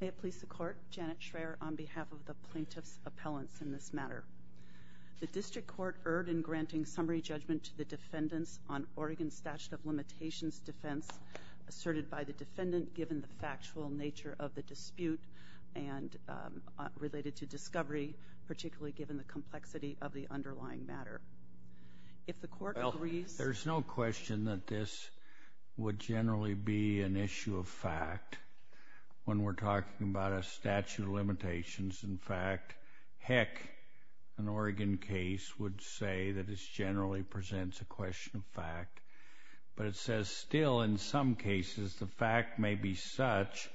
May it please the Court, Janet Schreyer on behalf of the Plaintiffs' Appellants in this matter. The District Court erred in granting summary judgment to the defendants on Oregon's statute of limitations defense asserted by the defendant given the factual nature of the dispute and related to discovery, particularly given the complexity of the underlying matter. If the Court agrees... Well, there's no question that this would generally be an issue of fact when we're talking about a statute of limitations. In fact, heck, an Oregon case would say that this generally presents a question of fact. But it says still in some cases the fact may be such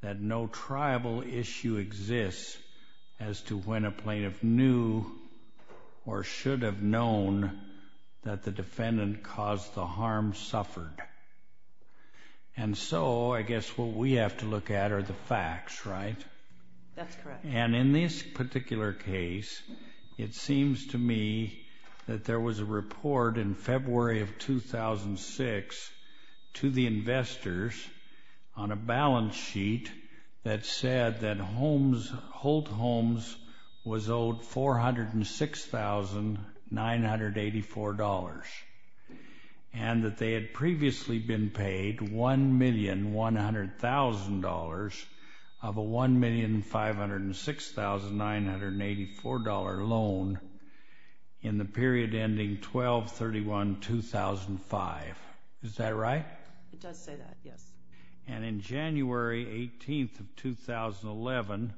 that no tribal issue exists as to when a plaintiff knew or should have known that the defendant caused the harm suffered. And so I guess what we have to look at are the facts, right? That's correct. And in this particular case, it seems to me that there was a report in February of 2006 to the investors on a balance sheet that said that Holt Homes was owed $406,984 and that they had previously been paid $1,100,000 of a $1,506,984 loan in the period ending 12-31-2005. Is that right? It does say that, yes. And in January 18th of 2011,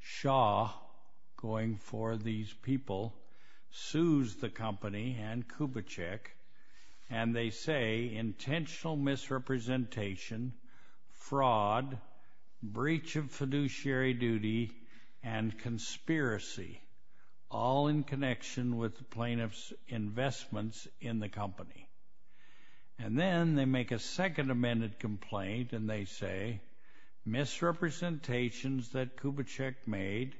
Shaw, going for these people, sues the company and Kubitschek, and they say intentional misrepresentation, fraud, breach of fiduciary duty, and conspiracy, all in connection with the plaintiff's investments in the company. And then they make a second amended complaint and they say misrepresentations that Kubitschek made,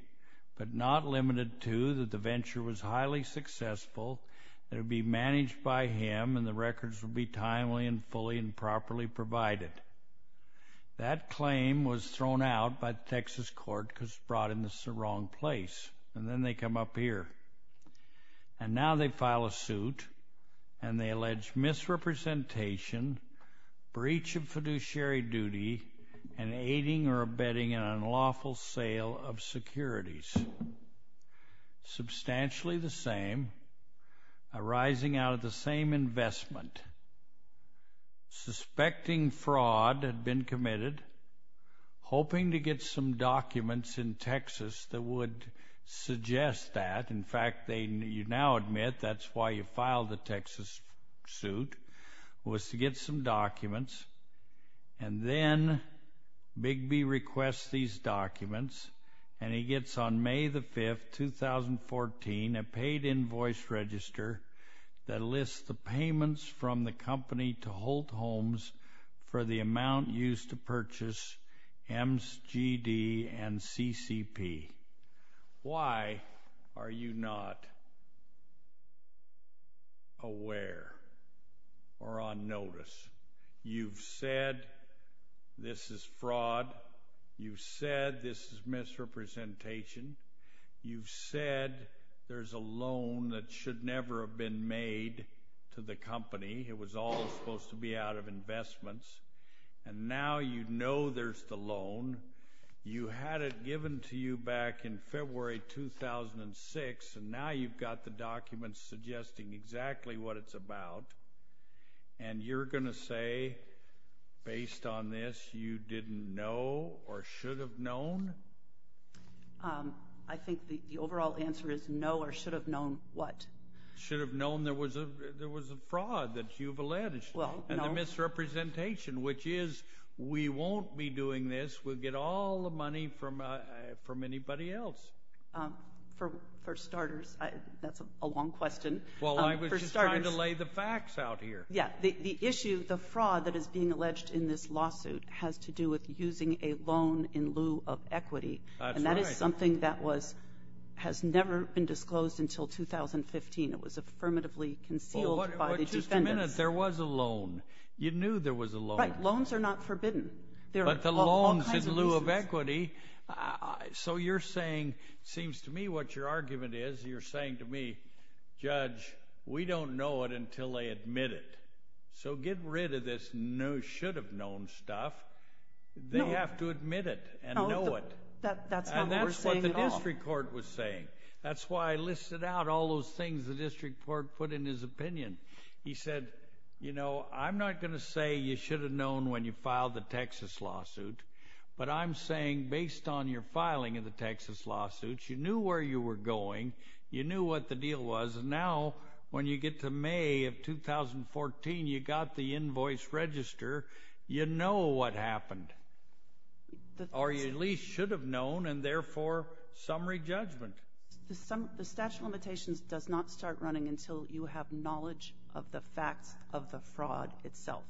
but not limited to that the venture was highly successful, that it would be managed by him and the records would be timely and fully and properly provided. That claim was thrown out by the Texas court because it brought him to the wrong place. And then they come up here. And now they file a suit and they allege misrepresentation, breach of fiduciary duty, and aiding or abetting an unlawful sale of securities. Substantially the same, arising out of the same investment. Suspecting fraud had been committed, hoping to get some documents in Texas that would suggest that. In fact, you now admit that's why you filed the Texas suit, was to get some documents. And then Bigby requests these documents and he gets on May the 5th, 2014, a paid invoice register that lists the payments from the company to Holt Homes for the amount used to purchase MSGD and CCP. Why are you not aware or on notice? You've said this is fraud. You've said this is misrepresentation. You've said there's a loan that should never have been made to the company. It was always supposed to be out of investments. And now you know there's the loan. You had it given to you back in February 2006, and now you've got the documents suggesting exactly what it's about. And you're going to say, based on this, you didn't know or should have known? I think the overall answer is no or should have known what? Should have known there was a fraud that you've alleged and the misrepresentation, which is we won't be doing this. We'll get all the money from anybody else. For starters, that's a long question. Well, I was just trying to lay the facts out here. Yeah, the issue, the fraud that is being alleged in this lawsuit has to do with using a loan in lieu of equity. And that is something that has never been disclosed until 2015. It was affirmatively concealed by the defendants. There was a loan. You knew there was a loan. Right. Loans are not forbidden. But the loans in lieu of equity, so you're saying, seems to me what your argument is, you're saying to me, Judge, we don't know it until they admit it. So get rid of this no should have known stuff. They have to admit it and know it. That's not what we're saying at all. And that's what the district court was saying. That's why I listed out all those things the district court put in his opinion. He said, you know, I'm not going to say you should have known when you filed the Texas lawsuit, but I'm saying based on your filing of the Texas lawsuits, you knew where you were going, you knew what the deal was, and now when you get to May of 2014, you got the invoice register, you know what happened. Or you at least should have known, and therefore summary judgment. The statute of limitations does not start running until you have knowledge of the facts of the fraud itself.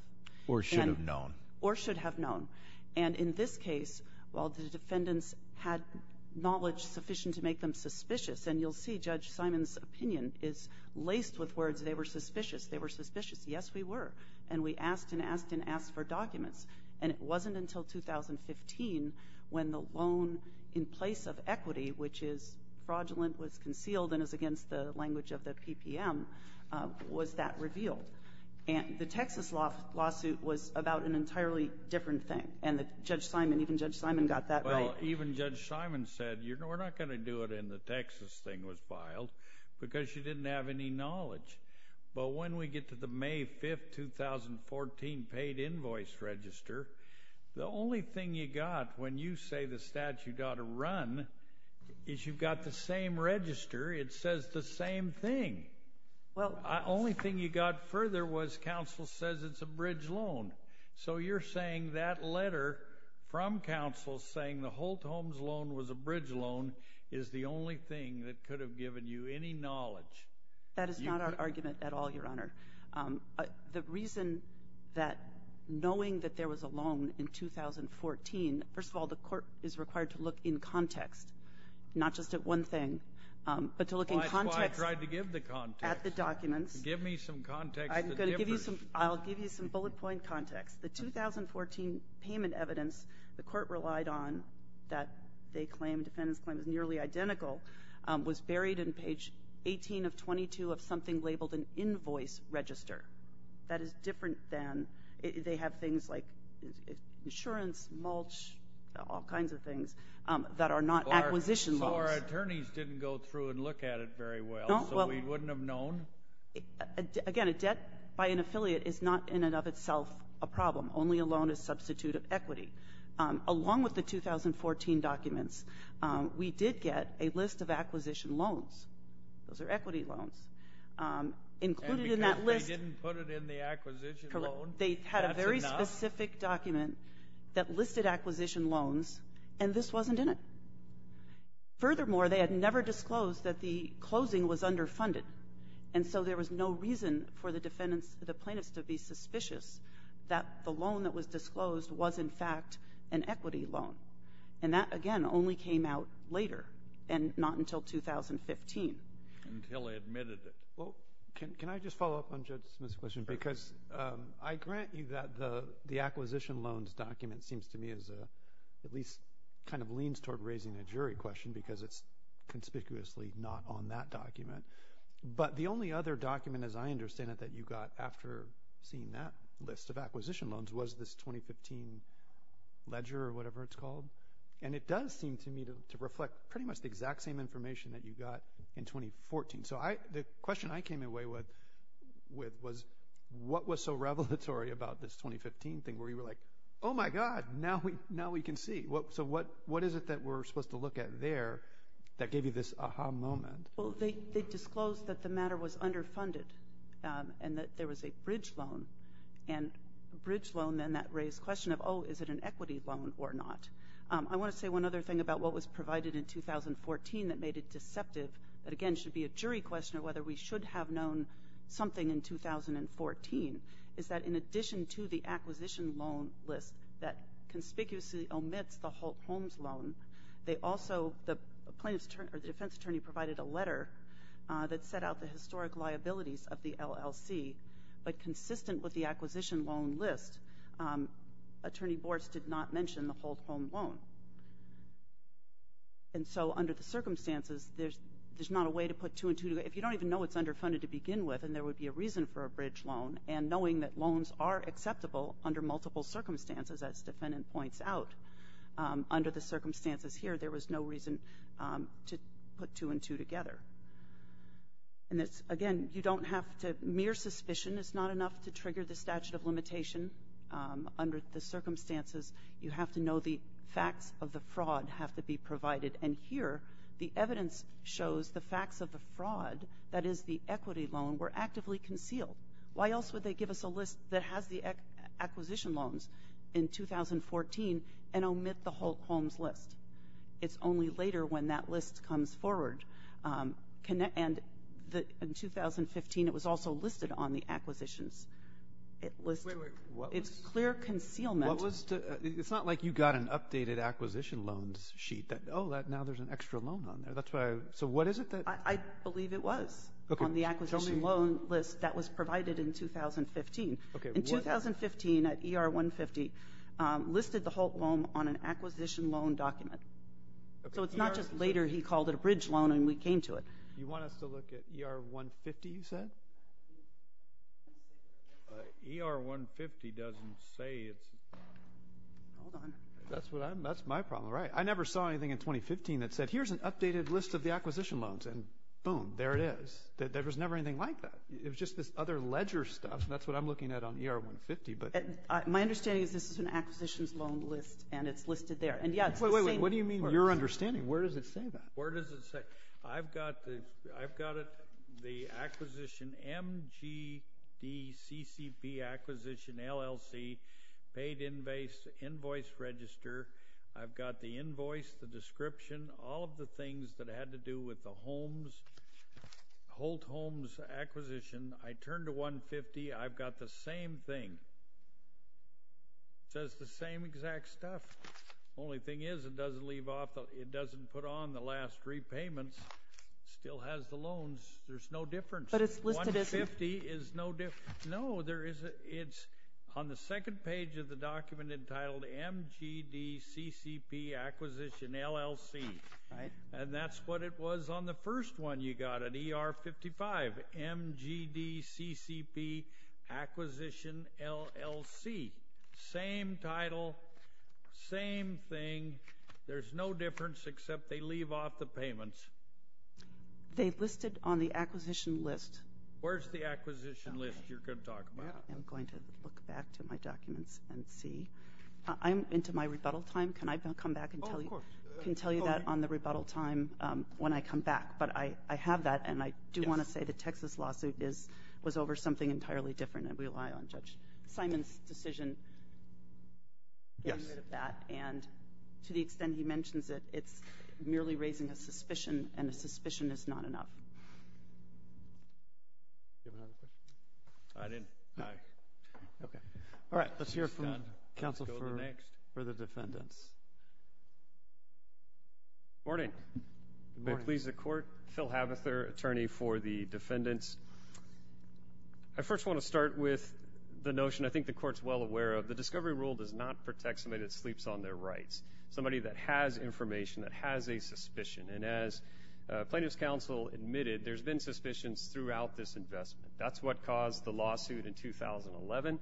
Or should have known. Or should have known. And in this case, while the defendants had knowledge sufficient to make them suspicious, and you'll see Judge Simon's opinion is laced with words, they were suspicious, they were suspicious. Yes, we were. And we asked and asked and asked for documents. And it wasn't until 2015 when the loan in place of equity, which is fraudulent, was concealed and is against the language of the PPM, was that revealed. And the Texas lawsuit was about an entirely different thing. And Judge Simon, even Judge Simon got that right. Well, even Judge Simon said, you know, we're not going to do it, and the Texas thing was filed because she didn't have any knowledge. But when we get to the May 5, 2014 paid invoice register, the only thing you got when you say the statute ought to run is you've got the same register. It says the same thing. The only thing you got further was counsel says it's a bridge loan. So you're saying that letter from counsel saying the Holt Homes loan was a bridge loan is the only thing that could have given you any knowledge. That is not our argument at all, Your Honor. The reason that knowing that there was a loan in 2014, first of all, the court is required to look in context, not just at one thing, but to look in context. Well, that's why I tried to give the context. At the documents. Give me some context. I'm going to give you some. I'll give you some bullet point context. The 2014 payment evidence the court relied on that they claimed, defendants claimed, was buried in page 18 of 22 of something labeled an invoice register. That is different than they have things like insurance, mulch, all kinds of things that are not acquisition loans. So our attorneys didn't go through and look at it very well. So we wouldn't have known? Again, a debt by an affiliate is not in and of itself a problem. Only a loan is substitute of equity. Along with the 2014 documents, we did get a list of acquisition loans. Those are equity loans. Included in that list. And because they didn't put it in the acquisition loan, that's enough? Correct. They had a very specific document that listed acquisition loans, and this wasn't in it. Furthermore, they had never disclosed that the closing was underfunded. And so there was no reason for the plaintiffs to be suspicious that the loan that was disclosed was, in fact, an equity loan. And that, again, only came out later and not until 2015. Until they admitted it. Well, can I just follow up on Judge Smith's question? Because I grant you that the acquisition loans document seems to me as a at least kind of leans toward raising a jury question because it's conspicuously not on that document. But the only other document, as I understand it, that you got after seeing that list of acquisition loans was this 2015 ledger or whatever it's called. And it does seem to me to reflect pretty much the exact same information that you got in 2014. So the question I came away with was what was so revelatory about this 2015 thing where you were like, oh, my God, now we can see. So what is it that we're supposed to look at there that gave you this aha moment? Well, they disclosed that the matter was underfunded and that there was a bridge loan. And a bridge loan then that raised the question of, oh, is it an equity loan or not? I want to say one other thing about what was provided in 2014 that made it deceptive, that, again, should be a jury question of whether we should have known something in 2014, is that in addition to the acquisition loan list that conspicuously omits the Holt-Holmes loan, the defense attorney provided a letter that set out the historic liabilities of the LLC. But consistent with the acquisition loan list, attorney boards did not mention the Holt-Holmes loan. And so under the circumstances, there's not a way to put two and two together. If you don't even know it's underfunded to begin with, then there would be a reason for a bridge loan. And knowing that loans are acceptable under multiple circumstances, as the defendant points out, under the circumstances here, there was no reason to put two and two together. And, again, you don't have to ñ mere suspicion is not enough to trigger the statute of limitation. Under the circumstances, you have to know the facts of the fraud have to be provided. And here, the evidence shows the facts of the fraud, that is the equity loan, were actively concealed. Why else would they give us a list that has the acquisition loans in 2014 and omit the Holt-Holmes list? It's only later when that list comes forward. And in 2015, it was also listed on the acquisitions list. It's clear concealment. It's not like you got an updated acquisition loans sheet. Oh, now there's an extra loan on there. So what is it? I believe it was on the acquisition loan list that was provided in 2015. In 2015, ER-150 listed the Holt-Holmes on an acquisition loan document. So it's not just later he called it a bridge loan and we came to it. You want us to look at ER-150, you said? ER-150 doesn't say it. Hold on. That's my problem, right? I never saw anything in 2015 that said, here's an updated list of the acquisition loans, and boom, there it is. There was never anything like that. It was just this other ledger stuff, and that's what I'm looking at on ER-150. My understanding is this is an acquisitions loan list, and it's listed there. Wait, wait, wait. What do you mean your understanding? Where does it say that? Where does it say? I've got the acquisition, MGDCCP acquisition, LLC, paid invoice register. I've got the invoice, the description, all of the things that had to do with the Holt-Holmes acquisition. I turned to 150. I've got the same thing. It says the same exact stuff. The only thing is it doesn't put on the last repayments. It still has the loans. There's no difference. 150 is no different. No, it's on the second page of the document entitled MGDCCP Acquisition, LLC, and that's what it was on the first one you got at ER-55, MGDCCP Acquisition, LLC. Same title, same thing. There's no difference except they leave off the payments. They listed on the acquisition list. Where's the acquisition list you're going to talk about? I'm going to look back to my documents and see. I'm into my rebuttal time. Can I come back and tell you that on the rebuttal time when I come back? But I have that, and I do want to say the Texas lawsuit was over something entirely different, and we rely on Judge Simon's decision. Yes. And to the extent he mentions it, it's merely raising a suspicion, and a suspicion is not enough. Do you have another question? I didn't. Okay. All right. Let's hear from counsel for the defendants. Morning. Good morning. May it please the Court. Phil Havither, attorney for the defendants. I first want to start with the notion. I think the Court's well aware of the discovery rule does not protect somebody that sleeps on their rights, somebody that has information, that has a suspicion. And as plaintiff's counsel admitted, there's been suspicions throughout this investment. That's what caused the lawsuit in 2011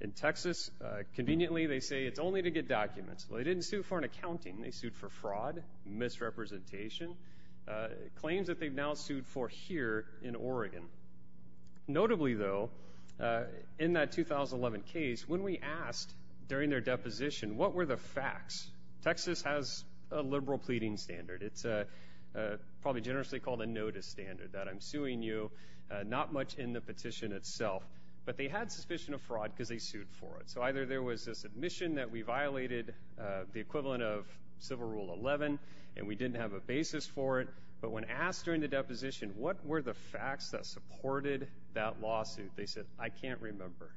in Texas. Conveniently, they say it's only to get documents. Well, they didn't sue for an accounting. They sued for fraud, misrepresentation, claims that they've now sued for here in Oregon. Notably, though, in that 2011 case, when we asked during their deposition what were the facts, Texas has a liberal pleading standard. It's probably generously called a notice standard, that I'm suing you, not much in the petition itself. But they had suspicion of fraud because they sued for it. So either there was this admission that we violated the equivalent of Civil Rule 11 and we didn't have a basis for it. But when asked during the deposition what were the facts that supported that lawsuit, they said, I can't remember.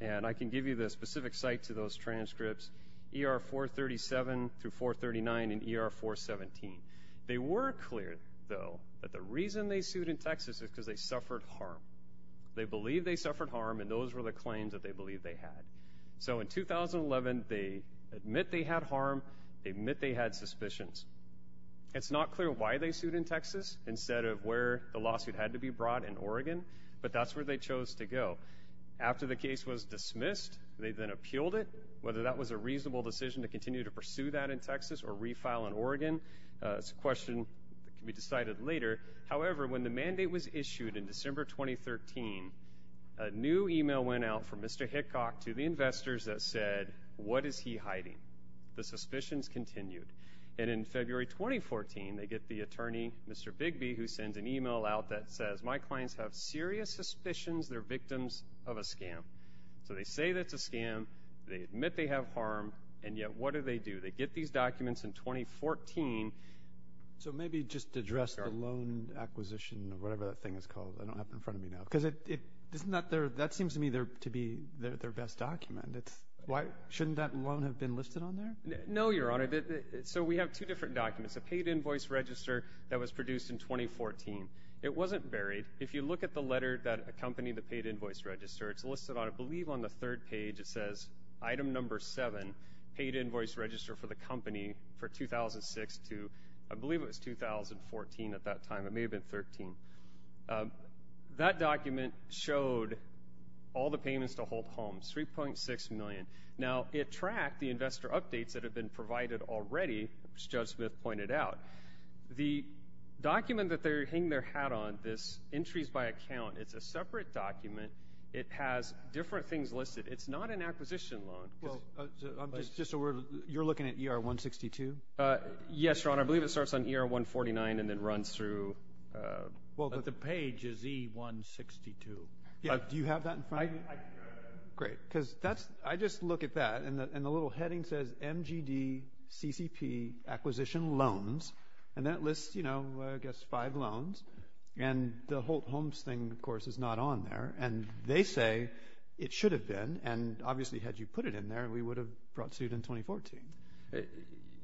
And I can give you the specific site to those transcripts, ER 437 through 439 and ER 417. They were clear, though, that the reason they sued in Texas is because they suffered harm. They believed they suffered harm, and those were the claims that they believed they had. So in 2011, they admit they had harm. They admit they had suspicions. It's not clear why they sued in Texas instead of where the lawsuit had to be brought in Oregon, but that's where they chose to go. After the case was dismissed, they then appealed it, whether that was a reasonable decision to continue to pursue that in Texas or refile in Oregon. It's a question that can be decided later. However, when the mandate was issued in December 2013, a new email went out from Mr. Hickock to the investors that said, what is he hiding? The suspicions continued. And in February 2014, they get the attorney, Mr. Bigby, who sends an email out that says, my clients have serious suspicions they're victims of a scam. So they say that it's a scam. They admit they have harm. And yet, what do they do? They get these documents in 2014. So maybe just address the loan acquisition or whatever that thing is called. I don't have it in front of me now. Because that seems to me to be their best document. Shouldn't that loan have been listed on there? No, Your Honor. So we have two different documents, a paid invoice register that was produced in 2014. It wasn't buried. If you look at the letter that accompanied the paid invoice register, it's listed on, I believe, on the third page. It says, item number seven, paid invoice register for the company for 2006 to, I believe it was 2014 at that time. It may have been 13. That document showed all the payments to hold homes, $3.6 million. Now, it tracked the investor updates that had been provided already, as Judge Smith pointed out. The document that they're hanging their hat on, this entries by account, it's a separate document. It has different things listed. It's not an acquisition loan. Just a word. You're looking at ER-162? Yes, Your Honor. I believe it starts on ER-149 and then runs through. The page is E-162. Do you have that in front of you? I do. Great. I just look at that, and the little heading says, MGDCCP Acquisition Loans. And that lists, I guess, five loans. And the hold homes thing, of course, is not on there. And they say it should have been. And obviously, had you put it in there, we would have brought suit in 2014.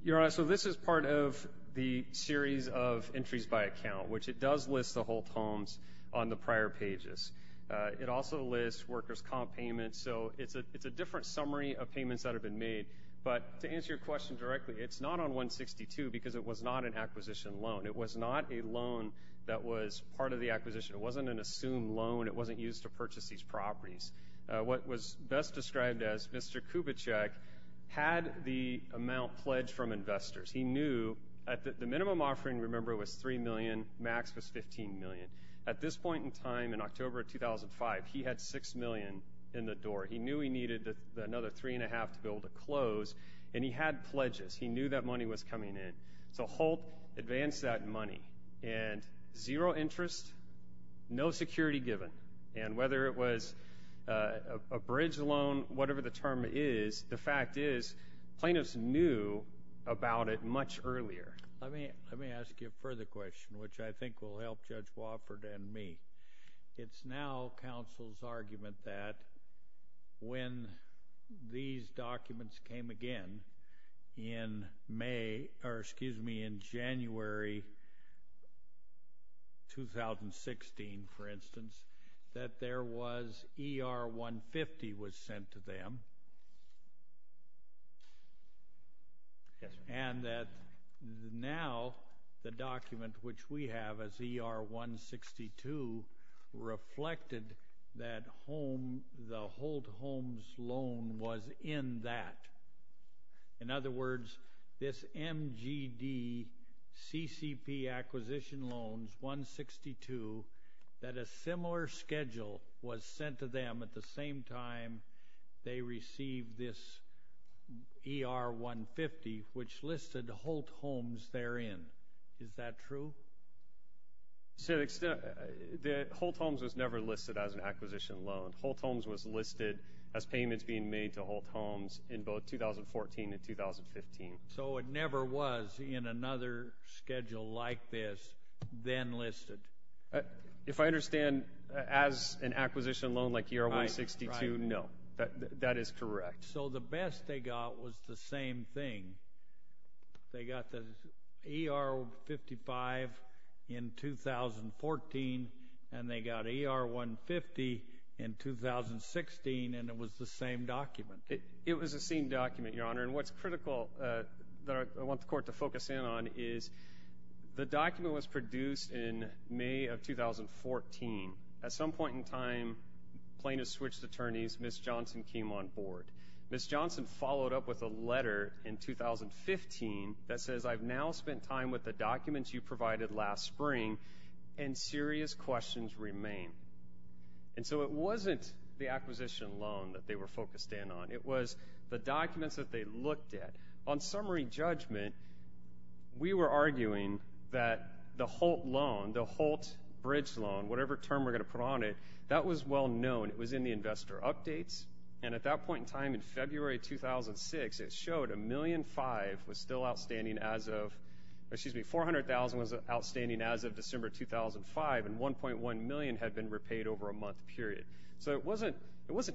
Your Honor, so this is part of the series of entries by account, which it does list the hold homes on the prior pages. It also lists workers' comp payments. So it's a different summary of payments that have been made. But to answer your question directly, it's not on 162 because it was not an acquisition loan. It was not a loan that was part of the acquisition. It wasn't an assumed loan. It wasn't used to purchase these properties. What was best described as Mr. Kubitschek had the amount pledged from investors. He knew the minimum offering, remember, was $3 million. Max was $15 million. At this point in time, in October of 2005, he had $6 million in the door. He knew he needed another three and a half to be able to close. And he had pledges. He knew that money was coming in. So Holt advanced that money. And zero interest, no security given. And whether it was a bridge loan, whatever the term is, the fact is plaintiffs knew about it much earlier. Let me ask you a further question, which I think will help Judge Wofford and me. It's now counsel's argument that when these documents came again in January 2016, for instance, that ER-150 was sent to them and that now the document, which we have as ER-162, reflected that the Holt Homes loan was in that. In other words, this MGD-CCP Acquisition Loans-162, that a similar schedule was sent to them at the same time they received this ER-150, which listed Holt Homes therein. Is that true? Holt Homes was never listed as an acquisition loan. Holt Homes was listed as payments being made to Holt Homes in both 2014 and 2015. So it never was, in another schedule like this, then listed? If I understand, as an acquisition loan like ER-162, no. That is correct. So the best they got was the same thing. They got the ER-155 in 2014, and they got ER-150 in 2016, and it was the same document. It was the same document, Your Honor. And what's critical that I want the Court to focus in on is the document was produced in May of 2014. At some point in time, plaintiffs switched attorneys. Ms. Johnson came on board. Ms. Johnson followed up with a letter in 2015 that says, I've now spent time with the documents you provided last spring, and serious questions remain. And so it wasn't the acquisition loan that they were focused in on. It was the documents that they looked at. On summary judgment, we were arguing that the Holt loan, the Holt bridge loan, whatever term we're going to put on it, that was well known. It was in the investor updates. And at that point in time, in February 2006, it showed $1.5 million was still outstanding as of – excuse me, $400,000 was outstanding as of December 2005, and $1.1 million had been repaid over a month period. So it wasn't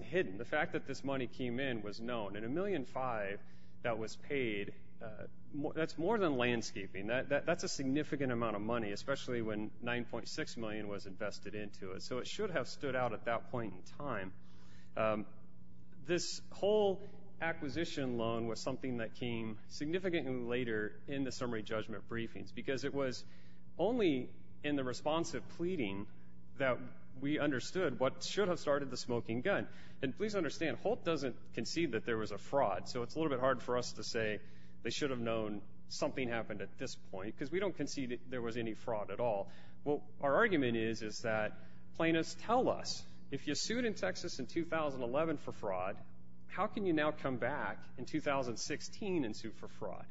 hidden. The fact that this money came in was known. And $1.5 million that was paid, that's more than landscaping. That's a significant amount of money, especially when $9.6 million was invested into it. So it should have stood out at that point in time. This whole acquisition loan was something that came significantly later in the summary judgment briefings because it was only in the responsive pleading that we understood what should have started the smoking gun. And please understand, Holt doesn't concede that there was a fraud, so it's a little bit hard for us to say they should have known something happened at this point because we don't concede there was any fraud at all. What our argument is is that plaintiffs tell us, if you sued in Texas in 2011 for fraud, how can you now come back in 2016 and sue for fraud?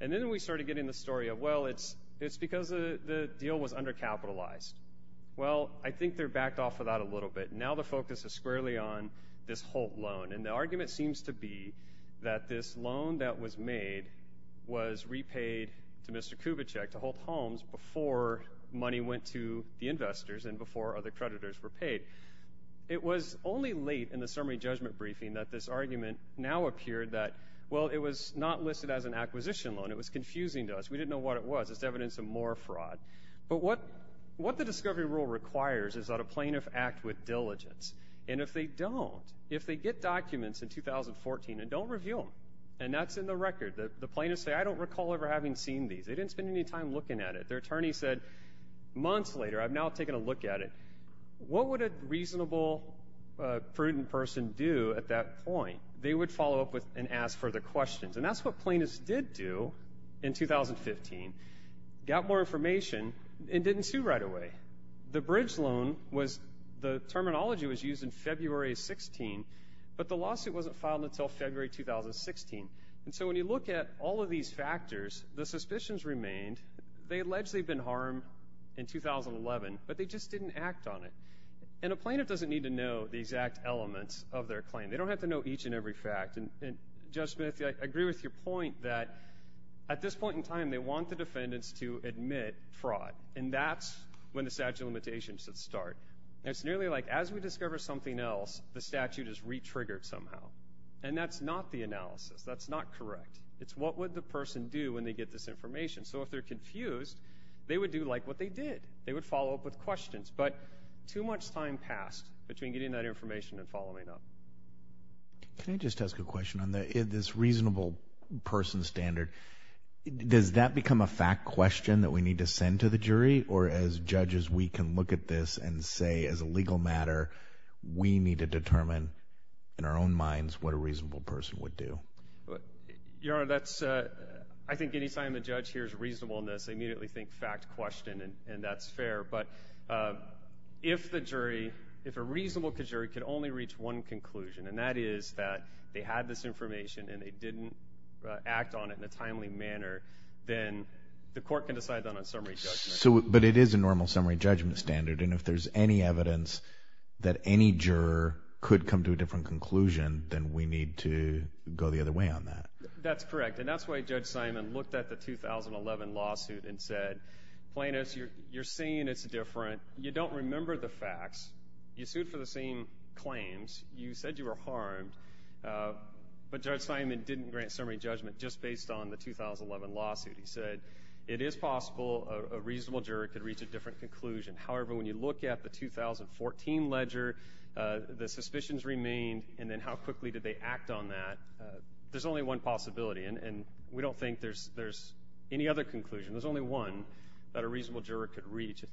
And then we started getting the story of, well, it's because the deal was undercapitalized. Well, I think they're backed off of that a little bit. Now the focus is squarely on this Holt loan, and the argument seems to be that this loan that was made was repaid to Mr. Kubitschek, to Holt Holmes, before money went to the investors and before other creditors were paid. It was only late in the summary judgment briefing that this argument now appeared that, well, it was not listed as an acquisition loan. It was confusing to us. We didn't know what it was. It's evidence of more fraud. But what the discovery rule requires is that a plaintiff act with diligence. And if they don't, if they get documents in 2014 and don't review them, and that's in the record, the plaintiffs say, I don't recall ever having seen these. They didn't spend any time looking at it. Their attorney said months later, I've now taken a look at it. What would a reasonable, prudent person do at that point? They would follow up and ask further questions. And that's what plaintiffs did do in 2015, got more information and didn't sue right away. The bridge loan was, the terminology was used in February of 16, but the lawsuit wasn't filed until February 2016. And so when you look at all of these factors, the suspicions remained. They allegedly have been harmed in 2011, but they just didn't act on it. And a plaintiff doesn't need to know the exact elements of their claim. They don't have to know each and every fact. And, Judge Smith, I agree with your point that at this point in time, they want the defendants to admit fraud. And that's when the statute of limitations should start. It's nearly like as we discover something else, the statute is re-triggered somehow. And that's not the analysis. That's not correct. It's what would the person do when they get this information. So if they're confused, they would do like what they did. They would follow up with questions. But too much time passed between getting that information and following up. Can I just ask a question on this reasonable person standard? Does that become a fact question that we need to send to the jury? Or as judges, we can look at this and say as a legal matter, we need to determine in our own minds what a reasonable person would do? Your Honor, I think any time a judge hears reasonableness, they immediately think fact question, and that's fair. But if the jury, if a reasonable jury could only reach one conclusion, and that is that they had this information and they didn't act on it in a timely manner, then the court can decide that on summary judgment. But it is a normal summary judgment standard, and if there's any evidence that any juror could come to a different conclusion, then we need to go the other way on that. That's correct, and that's why Judge Simon looked at the 2011 lawsuit and said, Plaintiffs, you're saying it's different. You don't remember the facts. You sued for the same claims. You said you were harmed. But Judge Simon didn't grant summary judgment just based on the 2011 lawsuit. He said it is possible a reasonable juror could reach a different conclusion. However, when you look at the 2014 ledger, the suspicions remained, and then how quickly did they act on that? There's only one possibility, and we don't think there's any other conclusion. There's only one that a reasonable juror could reach.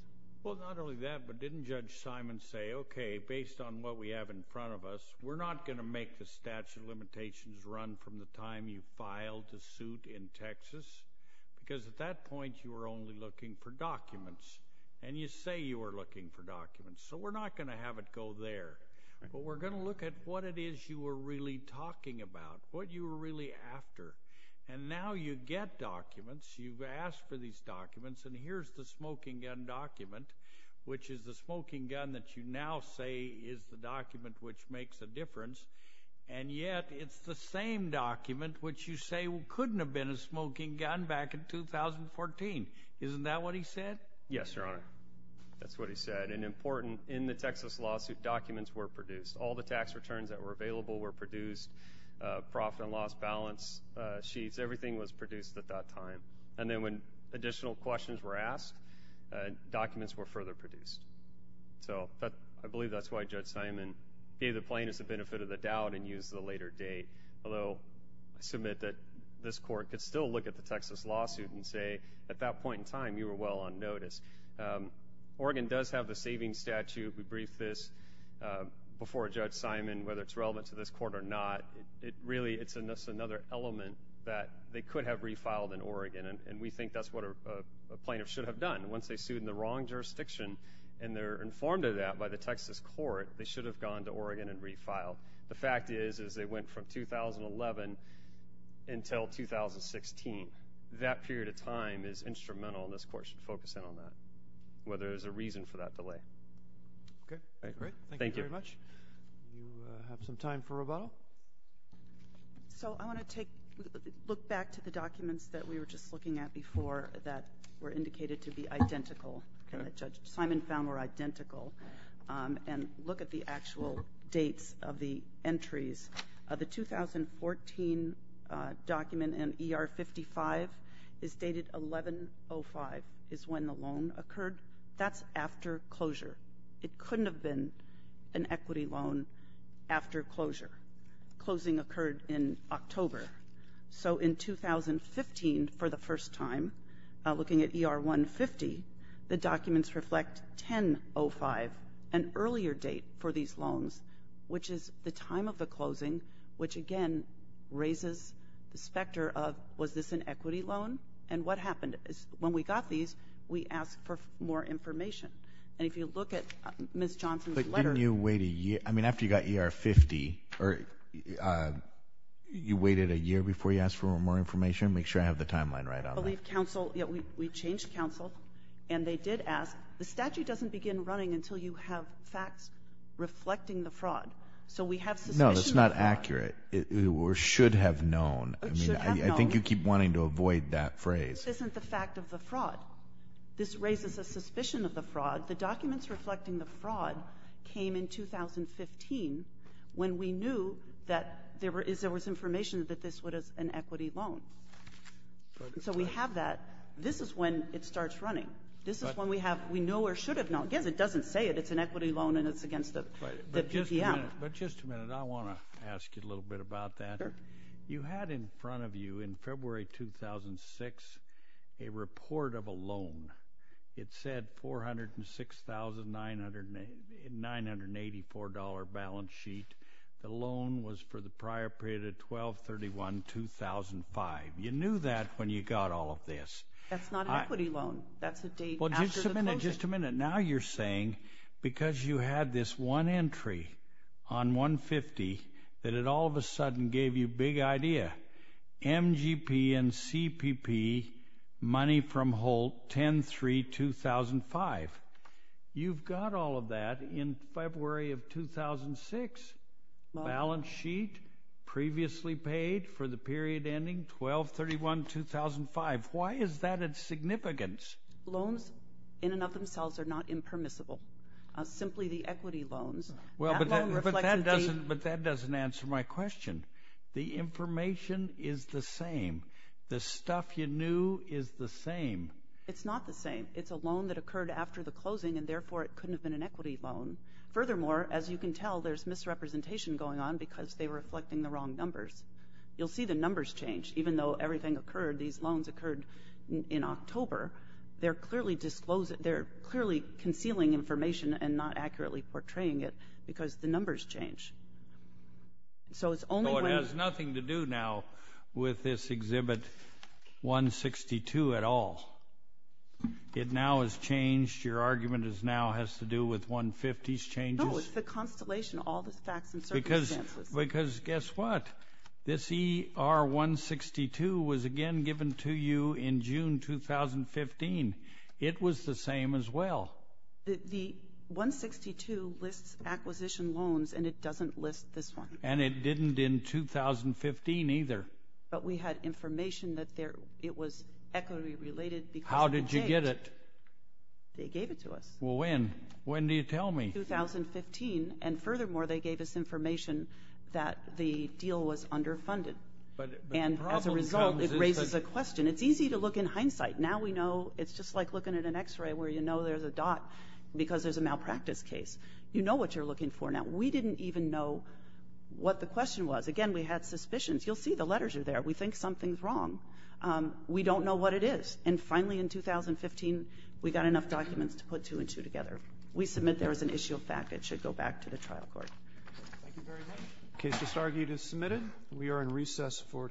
Well, not only that, but didn't Judge Simon say, okay, based on what we have in front of us, we're not going to make the statute of limitations run from the time you filed the suit in Texas because at that point you were only looking for documents, and you say you were looking for documents, so we're not going to have it go there. But we're going to look at what it is you were really talking about, what you were really after. And now you get documents. You've asked for these documents, and here's the smoking gun document, which is the smoking gun that you now say is the document which makes a difference, and yet it's the same document which you say couldn't have been a smoking gun back in 2014. Isn't that what he said? Yes, Your Honor. That's what he said. And important, in the Texas lawsuit, documents were produced. All the tax returns that were available were produced, profit and loss balance sheets. Everything was produced at that time. And then when additional questions were asked, documents were further produced. So I believe that's why Judge Simon gave the plaintiffs the benefit of the doubt and used the later date, although I submit that this court could still look at the Texas lawsuit and say at that point in time you were well on notice. Oregon does have the savings statute. We briefed this before Judge Simon, whether it's relevant to this court or not. It's another element that they could have refiled in Oregon, and we think that's what a plaintiff should have done. Once they're sued in the wrong jurisdiction and they're informed of that by the Texas court, they should have gone to Oregon and refiled. The fact is they went from 2011 until 2016. That period of time is instrumental, and this court should focus in on that, whether there's a reason for that delay. Okay, great. Thank you very much. Do you have some time for rebuttal? So I want to look back to the documents that we were just looking at before that were indicated to be identical, that Judge Simon found were identical, and look at the actual dates of the entries. The 2014 document in ER 55 is dated 11-05 is when the loan occurred. That's after closure. It couldn't have been an equity loan after closure. Closing occurred in October. So in 2015, for the first time, looking at ER 150, the documents reflect 10-05, an earlier date for these loans, which is the time of the closing, which again raises the specter of was this an equity loan and what happened. When we got these, we asked for more information. And if you look at Ms. Johnson's letter. But didn't you wait a year? I mean, after you got ER 50, you waited a year before you asked for more information? Make sure I have the timeline right on that. We changed counsel, and they did ask, the statute doesn't begin running until you have facts reflecting the fraud. So we have suspicion of fraud. No, that's not accurate. It should have known. It should have known. I think you keep wanting to avoid that phrase. This isn't the fact of the fraud. This raises a suspicion of the fraud. The documents reflecting the fraud came in 2015 when we knew that there was information that this was an equity loan. So we have that. This is when it starts running. This is when we know or should have known. Again, it doesn't say it. It's an equity loan, and it's against the PDM. But just a minute. I want to ask you a little bit about that. You had in front of you in February 2006 a report of a loan. It said $406,984 balance sheet. The loan was for the prior period of 12-31-2005. You knew that when you got all of this. That's not an equity loan. Just a minute. Now you're saying because you had this one entry on 150 that it all of a sudden gave you big idea. MGP and CPP, money from Holt, 10-3-2005. You've got all of that in February of 2006. Balance sheet, previously paid for the period ending 12-31-2005. Why is that of significance? Loans in and of themselves are not impermissible. Simply the equity loans. But that doesn't answer my question. The information is the same. The stuff you knew is the same. It's not the same. It's a loan that occurred after the closing, and therefore it couldn't have been an equity loan. Furthermore, as you can tell, there's misrepresentation going on because they were reflecting the wrong numbers. You'll see the numbers change. Even though everything occurred, these loans occurred in October, they're clearly concealing information and not accurately portraying it because the numbers change. So it's only when- So it has nothing to do now with this Exhibit 162 at all. It now has changed. Your argument now has to do with 150's changes? No, it's the constellation, all the facts and circumstances. Because guess what? This ER 162 was again given to you in June 2015. It was the same as well. The 162 lists acquisition loans, and it doesn't list this one. And it didn't in 2015 either. But we had information that it was equity related because- How did you get it? They gave it to us. Well, when? When do you tell me? And furthermore, they gave us information that the deal was underfunded. And as a result, it raises a question. It's easy to look in hindsight. Now we know it's just like looking at an x-ray where you know there's a dot because there's a malpractice case. You know what you're looking for now. We didn't even know what the question was. Again, we had suspicions. You'll see the letters are there. We think something's wrong. We don't know what it is. And finally in 2015, we got enough documents to put two and two together. We submit there is an issue of fact. It should go back to the trial court. Thank you very much. Case disargued is submitted. We are in recess for today.